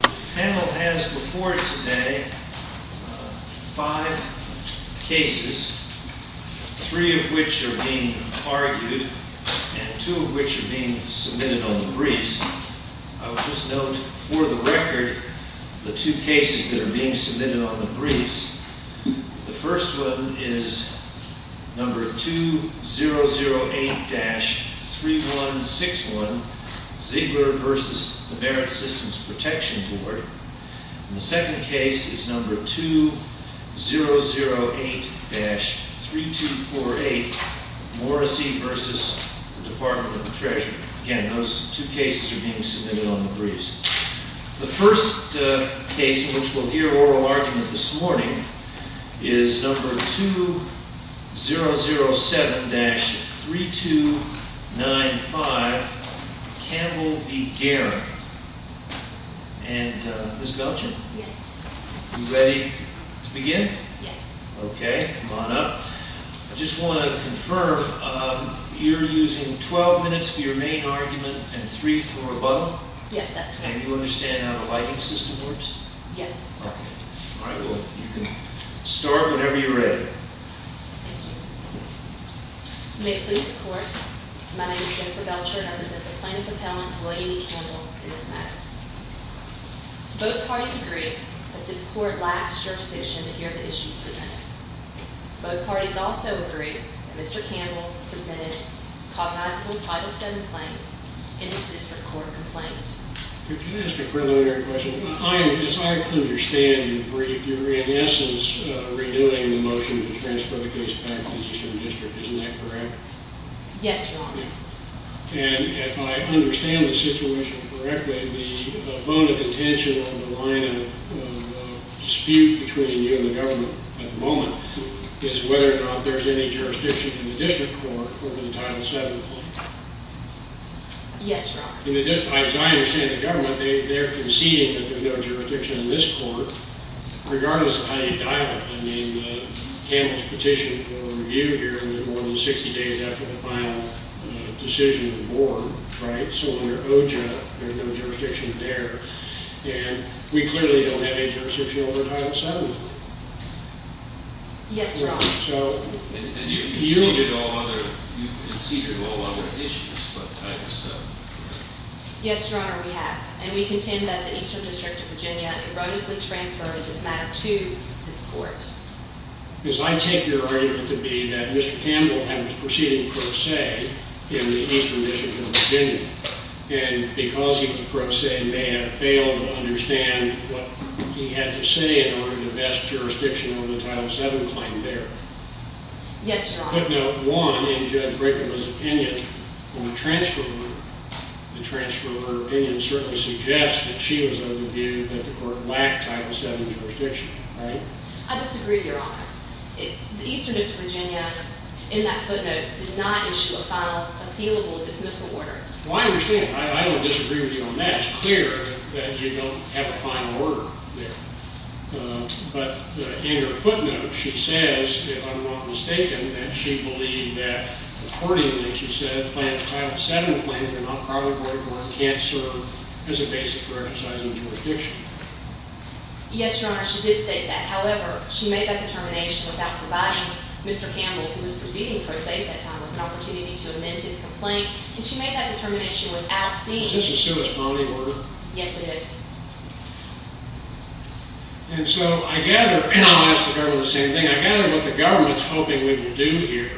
The panel has before it today five cases, three of which are being argued and two of which are being submitted on the briefs. I would just note for the record the two cases that are being submitted on the briefs. The first one is number 2008-3161, Ziegler v. the Merit Systems Protection Board. The second case is number 2008-3248, Morrissey v. the Department of the Treasury. Again, those two cases are being submitted on the briefs. The first case in which we'll hear oral argument this morning is number 2007-3295, Campbell v. Geren. And Ms. Belgin, are you ready to begin? Yes. Okay, come on up. I just want to confirm, you're using 12 minutes for your main argument and three for rebuttal? Yes, that's correct. And you understand how the lighting system works? Yes. Okay. All right, well, you can start whenever you're ready. Thank you. You may please report. My name is Jennifer Belcher and I represent the plaintiff appellant, William E. Campbell, in this matter. Both parties agree that this court lacks jurisdiction to hear the issues presented. Both parties also agree that Mr. Campbell presented cognizable Title VII claims in his district court complaint. Can I ask a preliminary question? As I understand, if you're, in essence, redoing the motion to transfer the case back to the Eastern District, isn't that correct? Yes, Your Honor. And if I understand the situation correctly, the bone of contention on the line of dispute between you and the government at the moment is whether or not there's any jurisdiction in the district court over the Title VII claim. Yes, Your Honor. As I understand the government, they're conceding that there's no jurisdiction in this court, regardless of how you dial it. I mean, Campbell's petition for review here, and then more than 60 days after the final decision of the board, right? So under OJIP, there's no jurisdiction there. And we clearly don't have any jurisdiction over Title VII. Yes, Your Honor. And you've conceded all other issues but Title VII. Yes, Your Honor, we have. And we contend that the Eastern District of Virginia erroneously transferred this matter to this court. Because I take your argument to be that Mr. Campbell had his proceeding pro se in the Eastern District of Virginia. And because he pro se may have failed to understand what he had to say in order to best jurisdiction over the Title VII claim there. Yes, Your Honor. Our footnote 1 in Judge Brickenwood's opinion on the transfer order, the transfer order opinion, certainly suggests that she was of the view that the court lacked Title VII jurisdiction, right? I disagree, Your Honor. The Eastern District of Virginia, in that footnote, did not issue a final appealable dismissal order. Well, I understand. I don't disagree with you on that. It's clear that you don't have a final order there. But in your footnote, she says, if I'm not mistaken, that she believed that, accordingly, she said that Title VII claims are not probable or can't serve as a basis for exercising jurisdiction. Yes, Your Honor, she did state that. However, she made that determination without providing Mr. Campbell, who was proceeding pro se at that time, with an opportunity to amend his complaint. And she made that determination without seeing- Is this a suspending order? Yes, it is. And so, I gather- and I'll ask the government the same thing- I gather what the government's hoping we will do here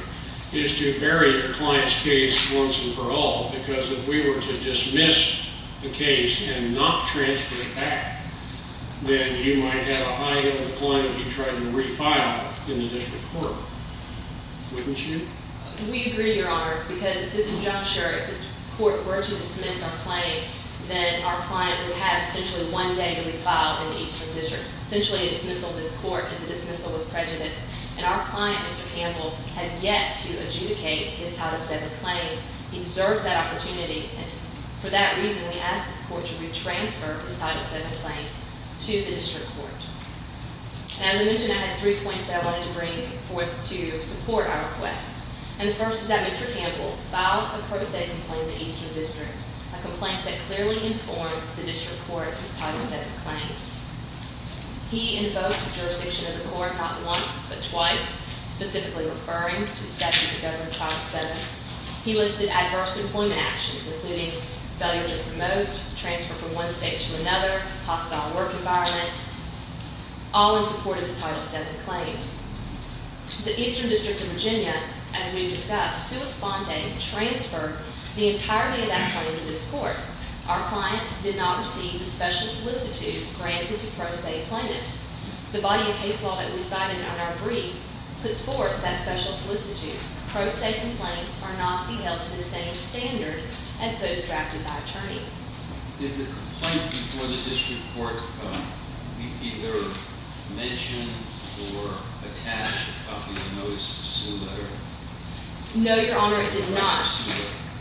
is to bury your client's case once and for all because if we were to dismiss the case and not transfer it back, then you might have a high-level client that you'd try to refile in the district court, wouldn't you? We agree, Your Honor, because if this judge, or if this court were to dismiss our client, then our client would have essentially one day to be filed in the Eastern District. Essentially, a dismissal in this court is a dismissal with prejudice. And our client, Mr. Campbell, has yet to adjudicate his Title VII claims. He deserves that opportunity. And for that reason, we ask this court to retransfer his Title VII claims to the district court. As I mentioned, I had three points that I wanted to bring forth to support our request. And the first is that Mr. Campbell filed a pro se complaint in the Eastern District, a complaint that clearly informed the district court of his Title VII claims. He invoked the jurisdiction of the court not once but twice, specifically referring to the statute that governs Title VII. He listed adverse employment actions, including failure to promote, transfer from one state to another, hostile work environment, all in support of his Title VII claims. The Eastern District of Virginia, as we've discussed, transferred the entirety of that claim to this court. Our client did not receive the special solicitude granted to pro se plaintiffs. The body of case law that we cited on our brief puts forth that special solicitude. Pro se complaints are not to be held to the same standard as those drafted by attorneys. Did the complaint before the district court either mention or attach a copy of the notice to the letter? No, Your Honor, it did not.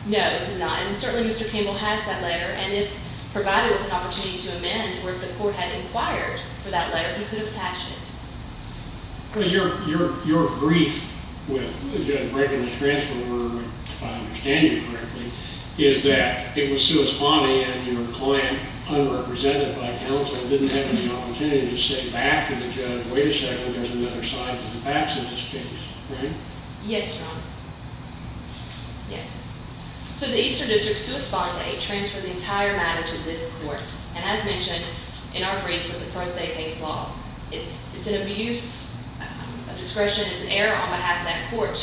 No, it did not. And certainly Mr. Campbell has that letter, and if provided with an opportunity to amend, or if the court had inquired for that letter, he could have attached it. Your brief with breaking the transfer order, if I understand you correctly, is that it was sua sponte and your client, unrepresented by counsel, didn't have any opportunity to say back to the judge, wait a second, there's another side to the facts in this case, right? Yes, Your Honor. Yes. So the Eastern District sua sponte transferred the entire matter to this court, and as mentioned in our brief with the pro se case law, it's an abuse of discretion and error on behalf of that court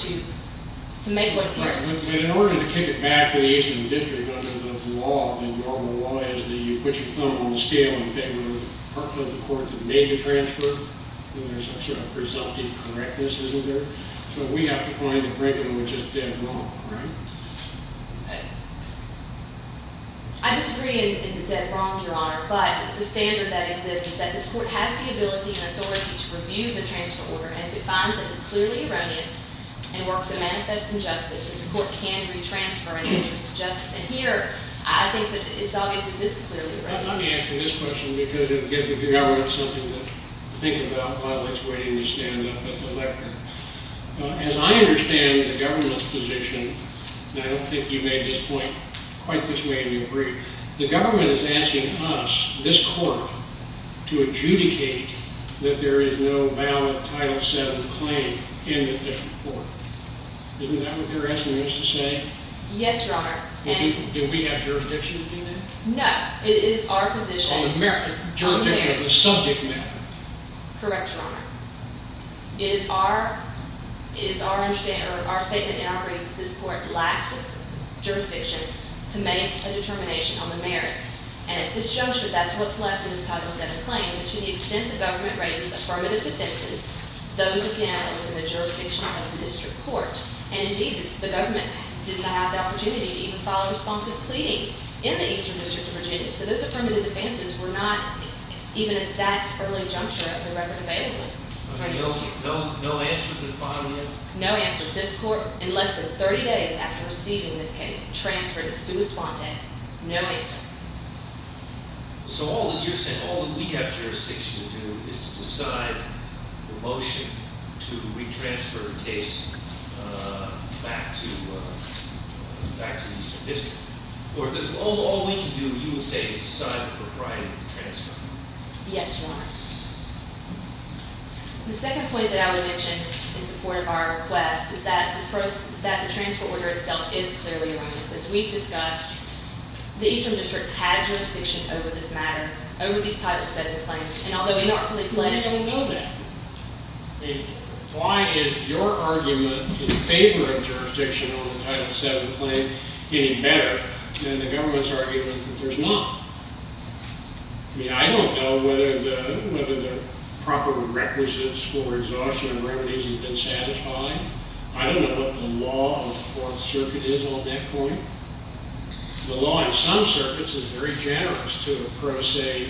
to make what appears to be true. In order to kick it back to the Eastern District under the law, the law is that you put your thumb on the scale in favor of the court that made the transfer, and there's a sort of presumptive correctness, isn't there? So we have to find the breaking which is dead wrong, right? Right. I disagree in the dead wrong, Your Honor, but the standard that exists is that this court has the ability and authority to review the transfer order and if it finds it is clearly erroneous and works to manifest injustice, this court can retransfer an interest to justice, and here I think that it obviously is clearly erroneous. Let me ask you this question because it would give the government something to think about while it's waiting to stand up at the lectern. As I understand the government's position, and I don't think you made this point quite this way in your brief, the government is asking us, this court, to adjudicate that there is no valid Title VII claim in the District Court. Isn't that what they're asking us to say? Yes, Your Honor. Do we have jurisdiction to do that? No. It is our position. So the jurisdiction of the subject matter. Correct, Your Honor. It is our statement in our brief that this court lacks jurisdiction to make a determination on the merits, and at this juncture, that's what's left in this Title VII claim, but to the extent the government raises affirmative defenses, those, again, are within the jurisdiction of the District Court, and indeed, the government did not have the opportunity to even file a responsive pleading in the Eastern District of Virginia, so those affirmative defenses were not even at that early juncture of the record available. No answer to the following evidence? No answer. This court, in less than 30 days after receiving this case, transferred it to a spontane. No answer. So all that you're saying, all that we have jurisdiction to do, is to decide the motion to retransfer the case back to the Eastern District. All we can do, you will say, is decide the propriety of the transfer. Yes, Your Honor. The second point that I would mention in support of our request is that the transfer order itself is clearly erroneous. As we've discussed, the Eastern District had jurisdiction over this matter, over these Title VII claims, and although in our plea pleading... We don't know that. Why is your argument in favor of jurisdiction over the Title VII claim getting better than the government's argument that there's not? I mean, I don't know whether the proper requisites for exhaustion and remedies have been satisfied. I don't know what the law of the Fourth Circuit is on that point. The law in some circuits is very generous to a pro se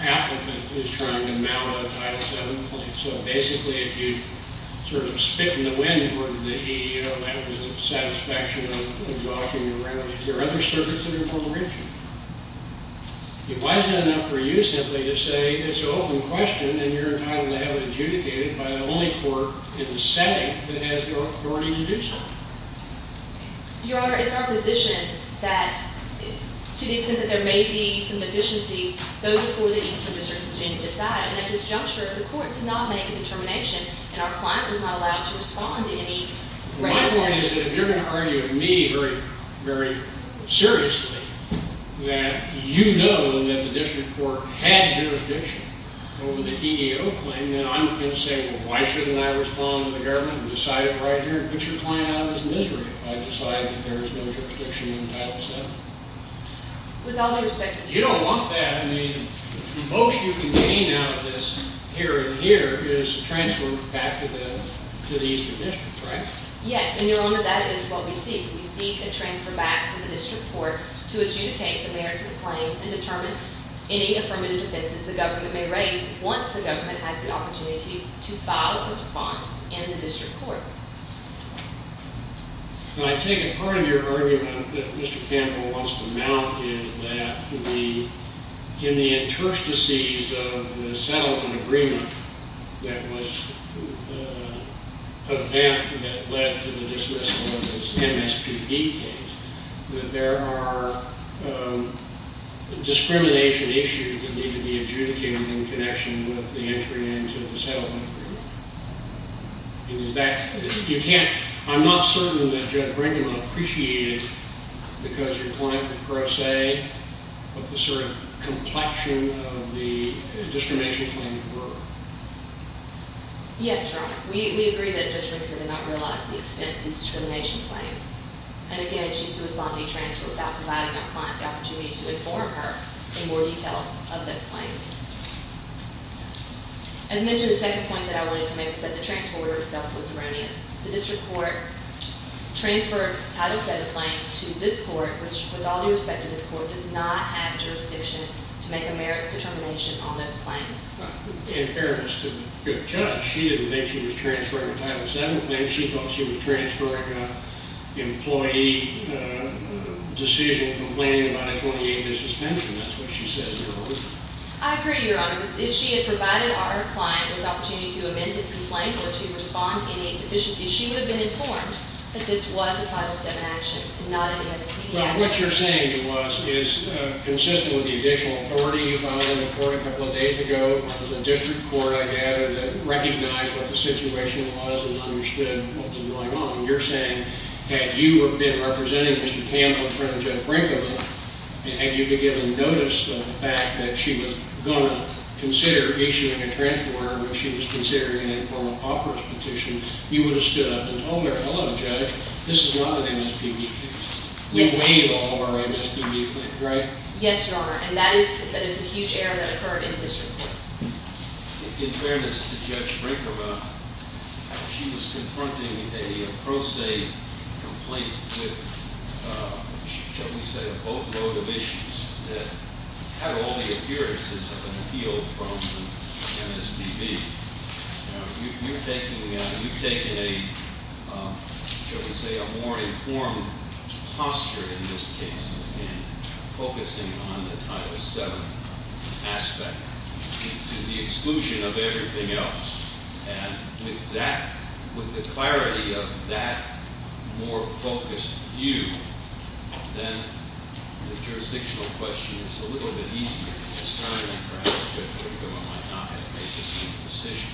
applicant who's trying to mount a Title VII claim. So basically, if you sort of spit in the wind according to the EEO, that was a satisfaction of exhaustion and remedies. There are other circuits that are more rich. Why is it enough for you simply to say it's an open question, and you're entitled to have it adjudicated by the only court in the setting that has the authority to do so? Your Honor, it's our position that to the extent that there may be some deficiencies, those before the Eastern District can decide. And at this juncture, the court did not make a determination, and our client was not allowed to respond to any grounds of that. Well, my point is that if you're going to argue with me very seriously that you know that the District Court had jurisdiction over the EEO claim, then I'm going to say, well, why shouldn't I respond to the government and decide it right here and put your client out of his misery if I decide that there is no jurisdiction in Title VII? With all due respect, it's true. You don't want that. I mean, the most you can gain out of this here and here is a transfer back to the Eastern District, right? Yes, and, Your Honor, that is what we seek. We seek a transfer back from the District Court to adjudicate the merits of the claims and determine any affirmative defenses the government may raise once the government has the opportunity to file a response in the District Court. I take it part of your argument that Mr. Campbell wants to mount is that in the interstices of the settlement agreement that led to the dismissal of this MSPB case, that there are discrimination issues that need to be adjudicated in connection with the entry into the settlement agreement. I'm not certain that Judge Brinkman appreciated because your client would pro se what the sort of complexion of the discrimination claims were. Yes, Your Honor. We agree that Judge Brinkman did not realize the extent of these discrimination claims. And again, she's supposed to be transferred without providing a client the opportunity to inform her in more detail of those claims. As mentioned, the second point that I wanted to make is that the transfer order itself was erroneous. The District Court transferred Title VII claims to this court, which with all due respect to this court, does not have jurisdiction to make a merits determination on those claims. In fairness to the judge, she didn't think she was transferring a Title VII claim. She thought she was transferring an employee decision complaining about a 28-day suspension. That's what she said in her argument. I agree, Your Honor. If she had provided our client with the opportunity to amend his complaint or to respond to any deficiency, she would have been informed that this was a Title VII action, not an ESPB action. Well, what you're saying to us is consistent with the additional authority you filed in the court a couple of days ago. The District Court, I gather, recognized what the situation was and understood what was going on. You're saying, had you been representing Mr. Campbell in front of Judge Brinkman, had you given notice of the fact that she was going to consider issuing a transfer order and she was considering an informal operative petition, you would have stood up and told her, Hello, Judge, this is not an ESPB case. We waive all of our ESPB claims, right? Yes, Your Honor, and that is a huge error that occurred in the District Court. In fairness to Judge Brinkman, she was confronting a pro se complaint with, shall we say, a boatload of issues that had all the appearances of an appeal from an ESPB. Now, you've taken a, shall we say, a more informed posture in this case in focusing on the Title VII aspect to the exclusion of everything else, and with the clarity of that more focused view then the jurisdictional question is a little bit easier to discern and perhaps Judge Brinkman might not have made the same decision.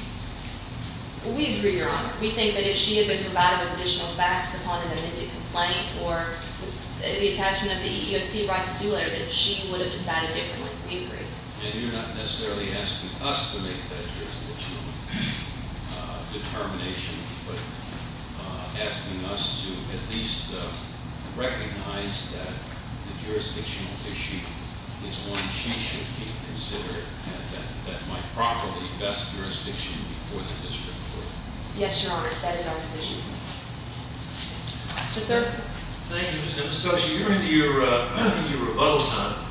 We agree, Your Honor. We think that if she had been provided with additional facts upon an amended complaint or the attachment of the EEOC right to sue letter, that she would have decided differently. We agree. And you're not necessarily asking us to make that jurisdictional determination, but asking us to at least recognize that the jurisdictional issue is one she should be considering that might properly vest jurisdiction before the District Court. Yes, Your Honor. That is our position. Yes, Your Honor. Mr. Thurgood. Thank you, Ms. Koshy. You're into your rebuttal time.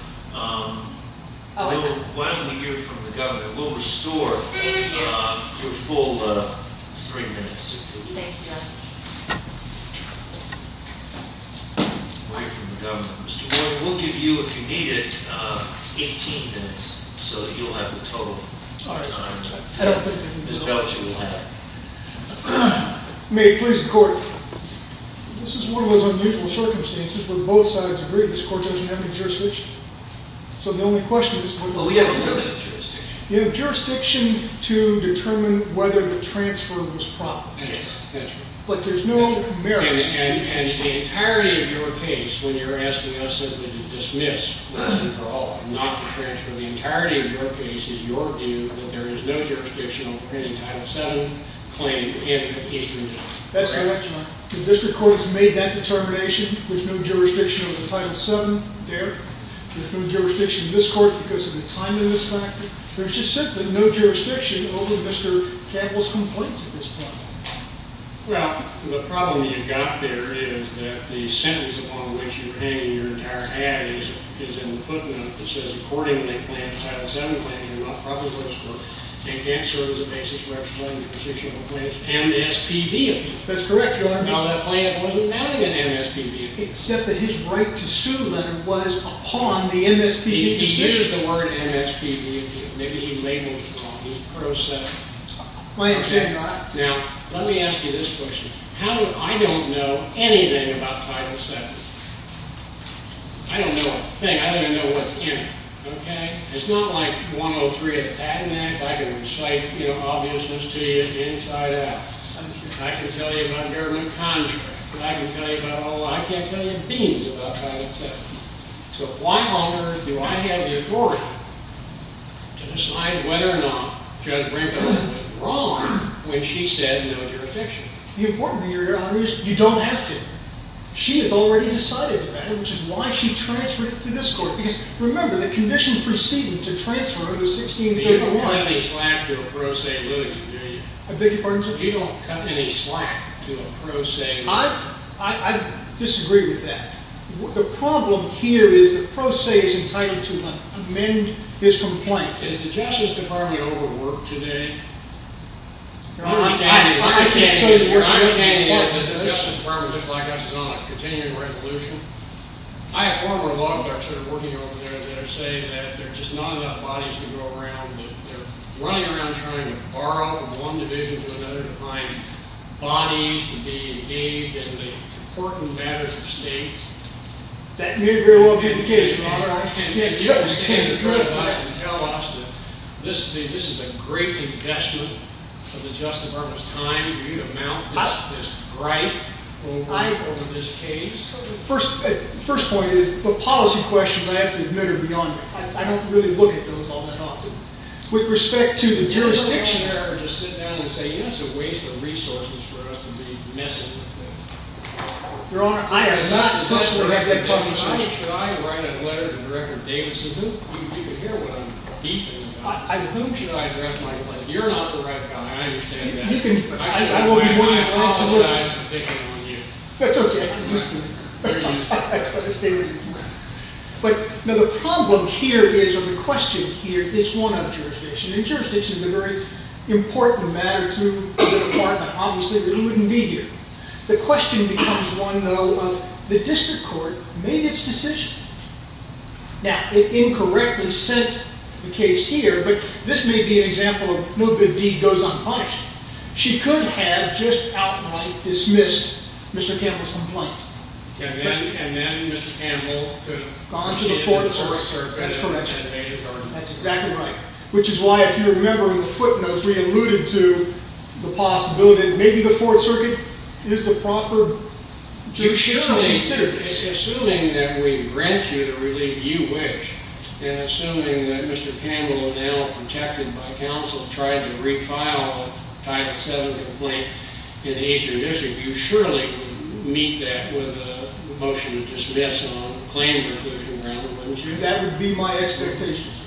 Why don't we hear from the Governor? We'll restore your full three minutes. Thank you, Your Honor. We'll hear from the Governor. Mr. Warren, we'll give you, if you need it, 18 minutes so that you'll have the total time. Ms. Belch, you will have it. May it please the Court. This is one of those unusual circumstances where both sides agree this Court doesn't have any jurisdiction. So the only question at this point is You have jurisdiction to determine whether the transfer was proper. Yes, that's right. But there's no merit. And the entirety of your case, when you're asking us simply to dismiss, not to transfer the entirety of your case, is your view that there is no jurisdiction over any Title VII claim in the Eastern District. That's correct, Your Honor. The District Court has made that determination. There's no jurisdiction over Title VII there. There's no jurisdiction in this Court because of the timing of this fact. There's just simply no jurisdiction over Mr. Campbell's complaints at this point. Well, the problem you've got there is that the sentence upon which you're hanging your entire hat is in the footnote that says, Accordingly, Title VII claims are not proper for this Court. They can't serve as a basis for explaining the position of a plaintiff. And the SPV appeal. That's correct, Your Honor. Now, that plaintiff wasn't found to have an MSPV appeal. Except that his right to sue, then, was upon the MSPV decision. He uses the word MSPV appeal. Maybe he labeled it wrong. He was pro-7. My intention, Your Honor. Now, let me ask you this question. I don't know anything about Title VII. I don't know a thing. I don't even know what's in it. Okay? It's not like 103. If I had an act, I could recite obviousness to you inside out. I can tell you about a government contract. I can tell you about all of that. I can't tell you beans about Title VII. So, why, Your Honor, do I have the authority to decide whether or not Judge Brinkman was wrong when she said no jurisdiction? The important thing, Your Honor, is you don't have to. She has already decided that, which is why she transferred it to this Court. Because, remember, the conditions preceding to transfer are the 1631. You don't cut any slack to a pro se litigant, do you? I beg your pardon, sir? You don't cut any slack to a pro se litigant. I disagree with that. The problem here is the pro se is entitled to amend his complaint. Is the Justice Department overworked today? Your Honor, I can't tell you. Your understanding is that the Justice Department, just like us, is on a continuing resolution. I have former law clerks that are working over there that are saying that there are just not enough bodies to go around. They're running around trying to borrow from one division to another to find bodies to be engaged in the important matters of state. That may very well be the case, Your Honor. Can you tell us that this is a great investment of the Justice Department's time for you to mount this gripe over this case? The first point is the policy questions I have to admit are beyond me. I don't really look at those all that often. With respect to the jurisdiction... It's a waste of resources for us to be messing with things. Your Honor, I am not in a position to have that kind of discussion. Should I write a letter to Director Davidson? You can hear what I'm beefing about. Whom should I address my complaint? You're not the right guy. I understand that. I will be more inclined to listen. I apologize for picking on you. That's okay. I'm listening. The problem here is, or the question here, is one of jurisdiction. Jurisdiction is a very important matter to the Department. Obviously, it wouldn't be here. The question becomes one, though, of the District Court made its decision. Now, it incorrectly sent the case here, but this may be an example of no good deed goes unpunished. She could have just outright dismissed Mr. Campbell's complaint. And then Mr. Campbell could have gone to the Foreign Service That's exactly right. Which is why, if you remember in the footnotes, we alluded to the possibility that maybe the Fourth Circuit is the proper jurisdiction to consider this. Assuming that we grant you to relieve you wish, and assuming that Mr. Campbell, now protected by counsel, tried to refile a Title VII complaint in the Eastern District, you surely would meet that with a motion to dismiss, a plain conclusion rather, wouldn't you? That would be my expectation, sir.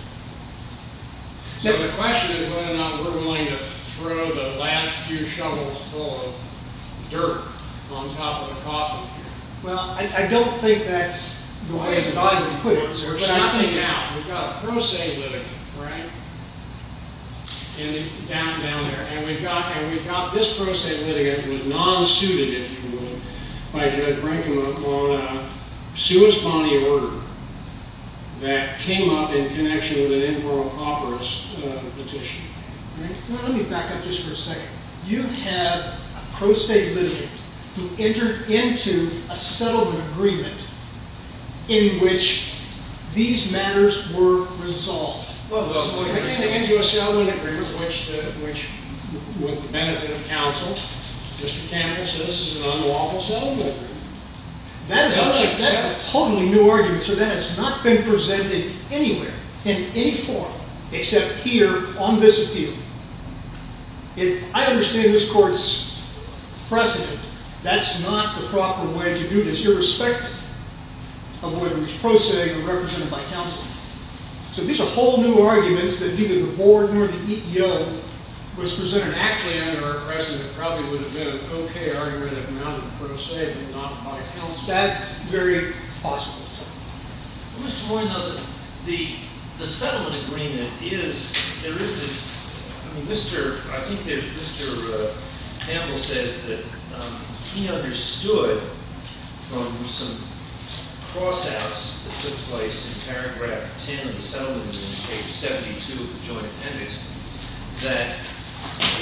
So the question is whether or not we're willing to throw the last few shovels full of dirt on top of the coffin here. Well, I don't think that's the way that I would put it, sir. But I think now, we've got a pro se litigant, right? Down there. And we've got this pro se litigant, which was non-suited, if you will, by Judge Brinkman, on a sui spani order that came up in connection with an improper petition. Let me back up just for a second. You have a pro se litigant who entered into a settlement agreement in which these matters were resolved. Well, he entered into a settlement agreement which, with the benefit of counsel, Mr. Campbell says this is an unlawful settlement agreement. That is a totally new argument, sir. That has not been presented anywhere, in any forum, except here on this appeal. I understand this court's precedent. That's not the proper way to do this, irrespective of whether it was pro se or represented by counsel. So these are whole new arguments that neither the board nor the EEO was presented. Actually, under our precedent, it probably would have been a co-K argument of non-pro se, but not by counsel. That's very possible, sir. Mr. Moynihan, the settlement agreement is, there is this, I think Mr. Campbell says that he understood from some cross-outs that took place in paragraph 10 of the settlement and in page 72 of the joint appendix that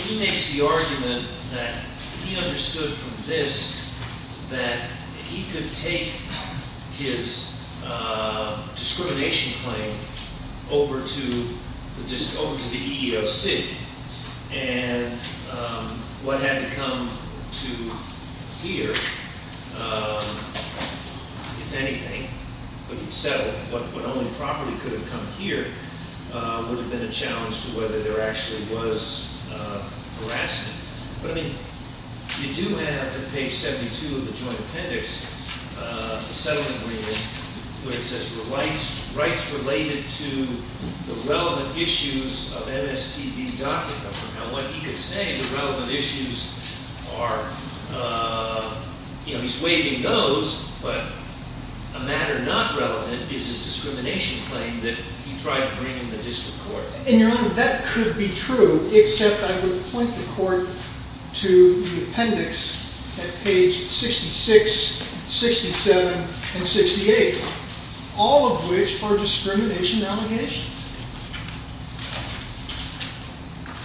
he makes the argument that he understood from this that he could take his discrimination claim over to the EEOC, and what had to come to here, if anything, would have settled. What only properly could have come here would have been a challenge to whether there actually was harassment. But, I mean, you do have, in page 72 of the joint appendix, the settlement agreement where it says the rights related to the relevant issues of MSPB docket government. Now, what he could say, the relevant issues are, you know, he's waving those, but a matter not relevant is his discrimination claim that he tried to bring in the district court. And, Your Honor, that could be true, except I would point the court to the appendix at page 66, 67, and 68, all of which are discrimination allegations.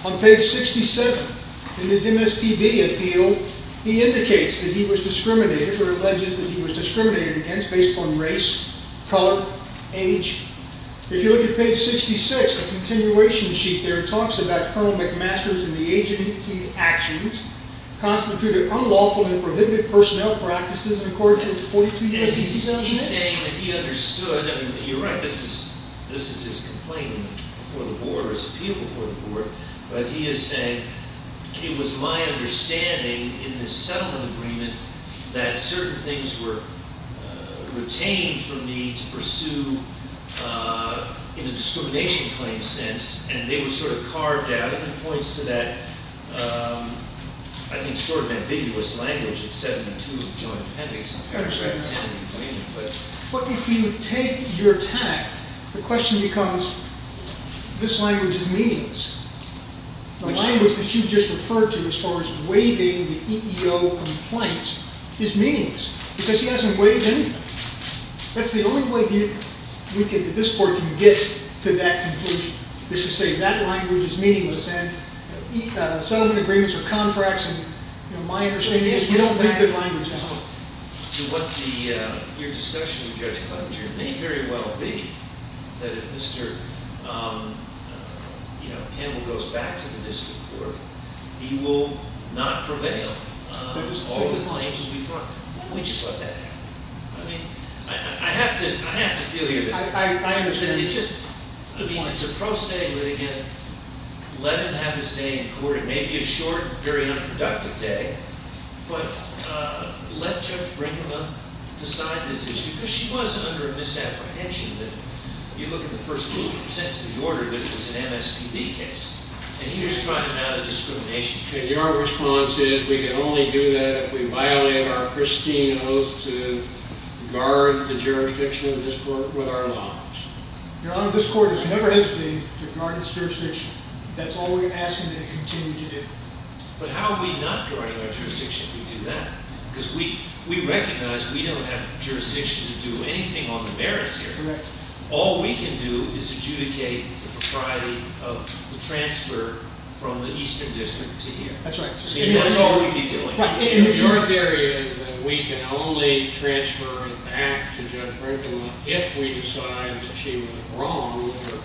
On page 67 in his MSPB appeal, he indicates that he was discriminated, or alleges that he was discriminated against based upon race, color, age. If you look at page 66, a continuation sheet there talks about Colonel McMaster's and the agency's actions constituted unlawful and prohibited personnel practices and according to the 42-page appeasement. He's saying that he understood, and you're right, this is his complaint before the board, his appeal before the board, but he is saying, it was my understanding in the settlement agreement that certain things were retained from me to pursue in a discrimination claim sense, and they were sort of carved out, and it points to that, I think, sort of ambiguous language at 72 of the joint appendix. But if you take your tack, the question becomes, this language is meaningless. The language that you just referred to as far as waiving the EEO compliance is meaningless, because he hasn't waived anything. That's the only way that this court can get to that conclusion, is to say that language is meaningless, and settlement agreements are contracts, and my understanding is you don't waive the language at all. Your discussion with Judge Clevenger may very well be that if Mr. Campbell goes back to the district court, he will not prevail. All the claims will be brought. We just let that happen. I mean, I have to feel you. I understand. It's a pro se litigant. Let him have his day in court. It may be a short, very unproductive day, but let Judge Brinkman decide this issue, because she was under a misapprehension that, you look at the first sentence of the order, which was an MSPB case, and here's trying to add a discrimination case. Your response is we can only do that if we violate our pristine oath to guard the jurisdiction of this court with our lives. Your Honor, this court has never hesitated to guard its jurisdiction. That's all we're asking them to continue to do. But how are we not guarding our jurisdiction if we do that? Because we recognize we don't have jurisdiction to do anything on the merits here. Correct. All we can do is adjudicate the propriety of the transfer from the Eastern District to here. That's right. That's all we'd be doing. Your theory is that we can only transfer it back to Judge Brinkman if we decide that she went wrong with her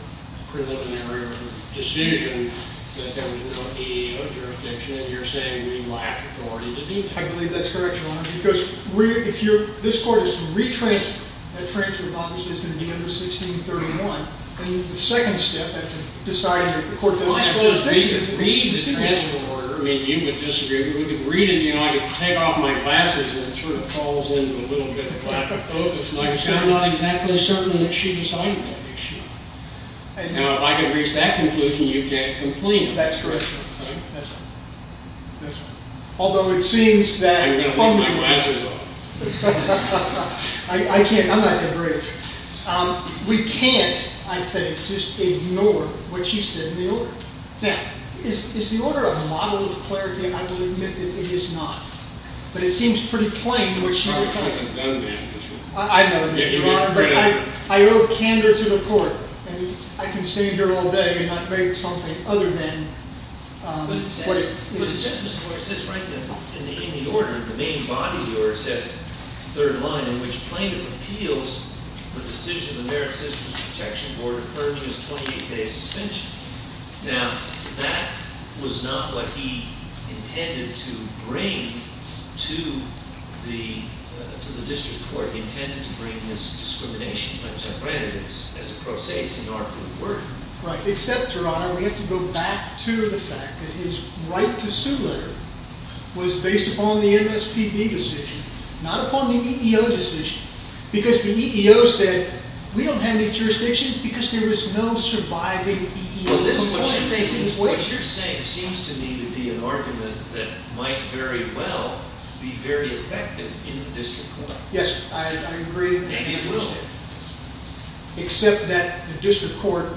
preliminary decision that there was no DAO jurisdiction, and you're saying we lack authority to do that. I believe that's correct, Your Honor, because if this court is to retransfer, that transfer model is just going to be under 1631. And the second step, if you decide that the court doesn't have jurisdiction, is to read the transfer order. I mean, you would disagree. But we could read it. You know, I could take off my glasses, and it sort of falls into a little bit of lack of focus. Like I said, I'm not exactly certain that she decided that she went wrong. Now, if I can reach that conclusion, you can't complain about it. That's correct, Your Honor. That's right. That's right. Although it seems that if I'm going to take my glasses off. I can't. I'm not going to read it. We can't, I think, just ignore what she said in the order. Now, is the order a model of clarity? I will admit that it is not. But it seems pretty plain to what she was saying. I know that you are. But I owe candor to the court. And I can stay here all day and not make something other than what it is. But it says, Mr. Moore, it says right there in the order, the main body of the order, it says, third line, in which plaintiff appeals the decision of the Merit Sisters Protection Board affirming his 28-day suspension. Now, that was not what he intended to bring to the district court. He intended to bring this discrimination. But granted, as a pro se, it's an artful word. Right. Except, Your Honor, we have to go back to the fact that his right to sue letter was based upon the MSPB decision, not upon the EEO decision. Because the EEO said, we don't have any jurisdiction because there is no surviving EEO complaint. What you're saying seems to me to be an argument that might very well be very effective in the district court. Yes, I agree with that. Maybe it will. Except that the district court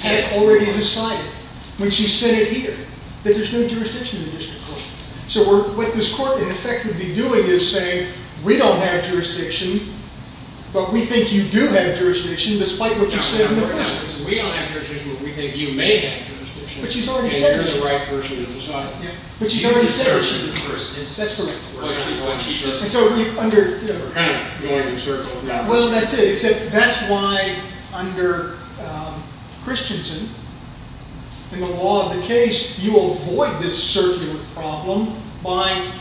has already decided, when she said it here, that there's no jurisdiction in the district court. So what this court, in effect, would be doing is saying, we don't have jurisdiction, but we think you do have jurisdiction, despite what you said in the first instance. We don't have jurisdiction, but we think you may have jurisdiction. But she's already said it. And you're the right person to decide. But she's already said it. She's the right person to decide. That's correct. And so under, you know. Kind of going in circles. Well, that's it. Except that's why, under Christensen, in the law of the case, you avoid this circular problem by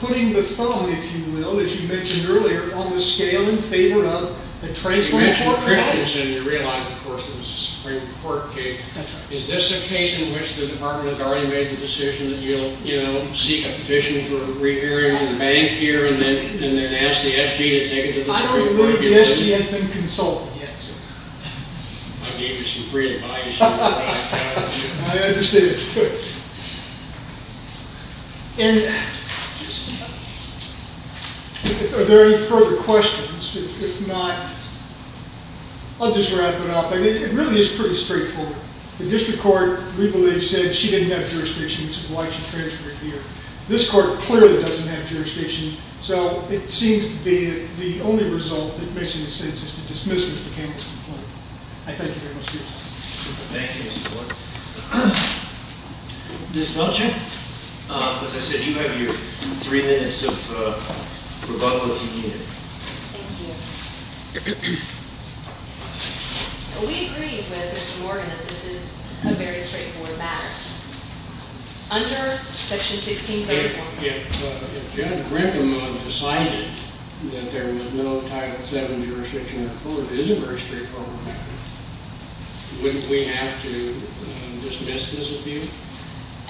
putting the thumb, if you will, as you mentioned earlier, on the scale in favor of the transfer of property. You mentioned Christensen, and you realize, of course, it was a Supreme Court case. That's right. Is this a case in which the department has already made the decision that you'll seek a petition for a rehearing in the bank here, and then ask the SG to take it to the Supreme Court? I don't believe the SG has been consulted yet. I gave her some free advice. I understand. That's good. And are there any further questions? If not, I'll just wrap it up. I mean, it really is pretty straightforward. The district court, we believe, said she didn't have jurisdiction, which is why she transferred here. This court clearly doesn't have jurisdiction. So it seems to be the only result that makes any sense is the dismissal of the Cambridge complaint. I thank you very much for your time. Thank you, Mr. Gordon. Ms. Belcher? As I said, you have your three minutes of rebuttal, if you need it. Thank you. We agree with Mr. Morgan that this is a very straightforward matter. Under section 16-34. If Judge Brinkman decided that there was no Title VII jurisdiction in the court, it is a very straightforward matter. Wouldn't we have to dismiss this appeal?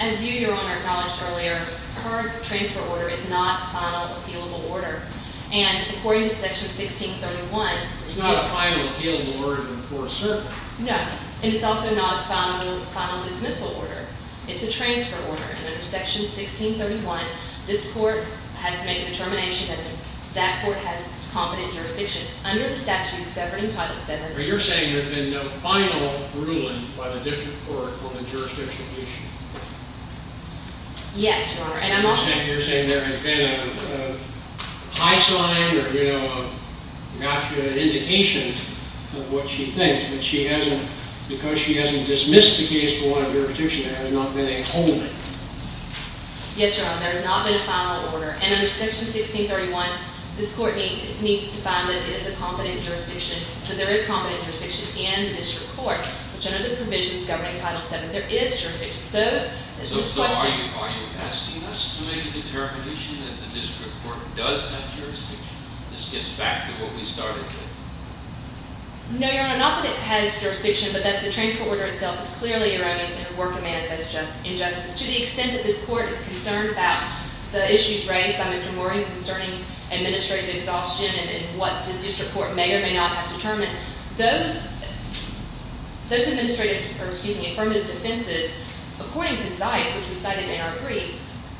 As you, Your Honor, acknowledged earlier, her transfer order is not a final appealable order. And according to section 16-31, it's not a final appealable order before a circuit. No. And it's also not a final dismissal order. It's a transfer order. And under section 16-31, this court has to make a determination that that court has competent jurisdiction. Under the statute governing Title VII. But you're saying there's been no final ruling by the district court on the jurisdiction issue. Yes, Your Honor. And I'm also saying. You're saying there has been a high slide or an indication of what she thinks. But she hasn't, because she hasn't dismissed the case for a lot of jurisdiction, and there has not been a holding. Yes, Your Honor. There has not been a final order. And under section 16-31, this court needs to find that it is a competent jurisdiction, that there is competent jurisdiction in the district court, which under the provisions governing Title VII, there is jurisdiction. So are you asking us to make a determination that the district court does have jurisdiction? This gets back to what we started with. No, Your Honor. Not that it has jurisdiction, but that the transfer order itself is clearly erroneous and a work of manifest injustice. To the extent that this court is concerned about the issues raised by Mr. Morgan concerning administrative exhaustion and what this district court may or may not have determined, those affirmative defenses, according to Zeis, which we cited in our brief,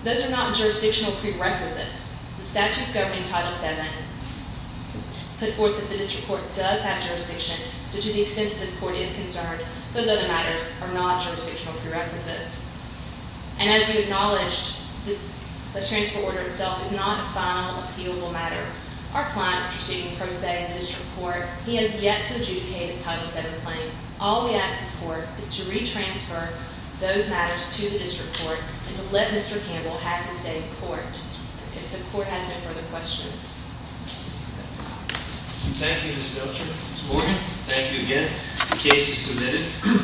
those are not jurisdictional prerequisites. The statute's governing Title VII put forth that the district court does have jurisdiction. So to the extent that this court is concerned, those other matters are not jurisdictional prerequisites. And as you acknowledged, the transfer order itself is not a final, appealable matter. Our client is proceeding pro se in the district court. He has yet to adjudicate his Title VII claims. All we ask this court is to retransfer those matters to the district court and to let Mr. Campbell have his say in court, if the court has no further questions. Thank you, Ms. Belcher. Ms. Morgan, thank you again. The case is submitted.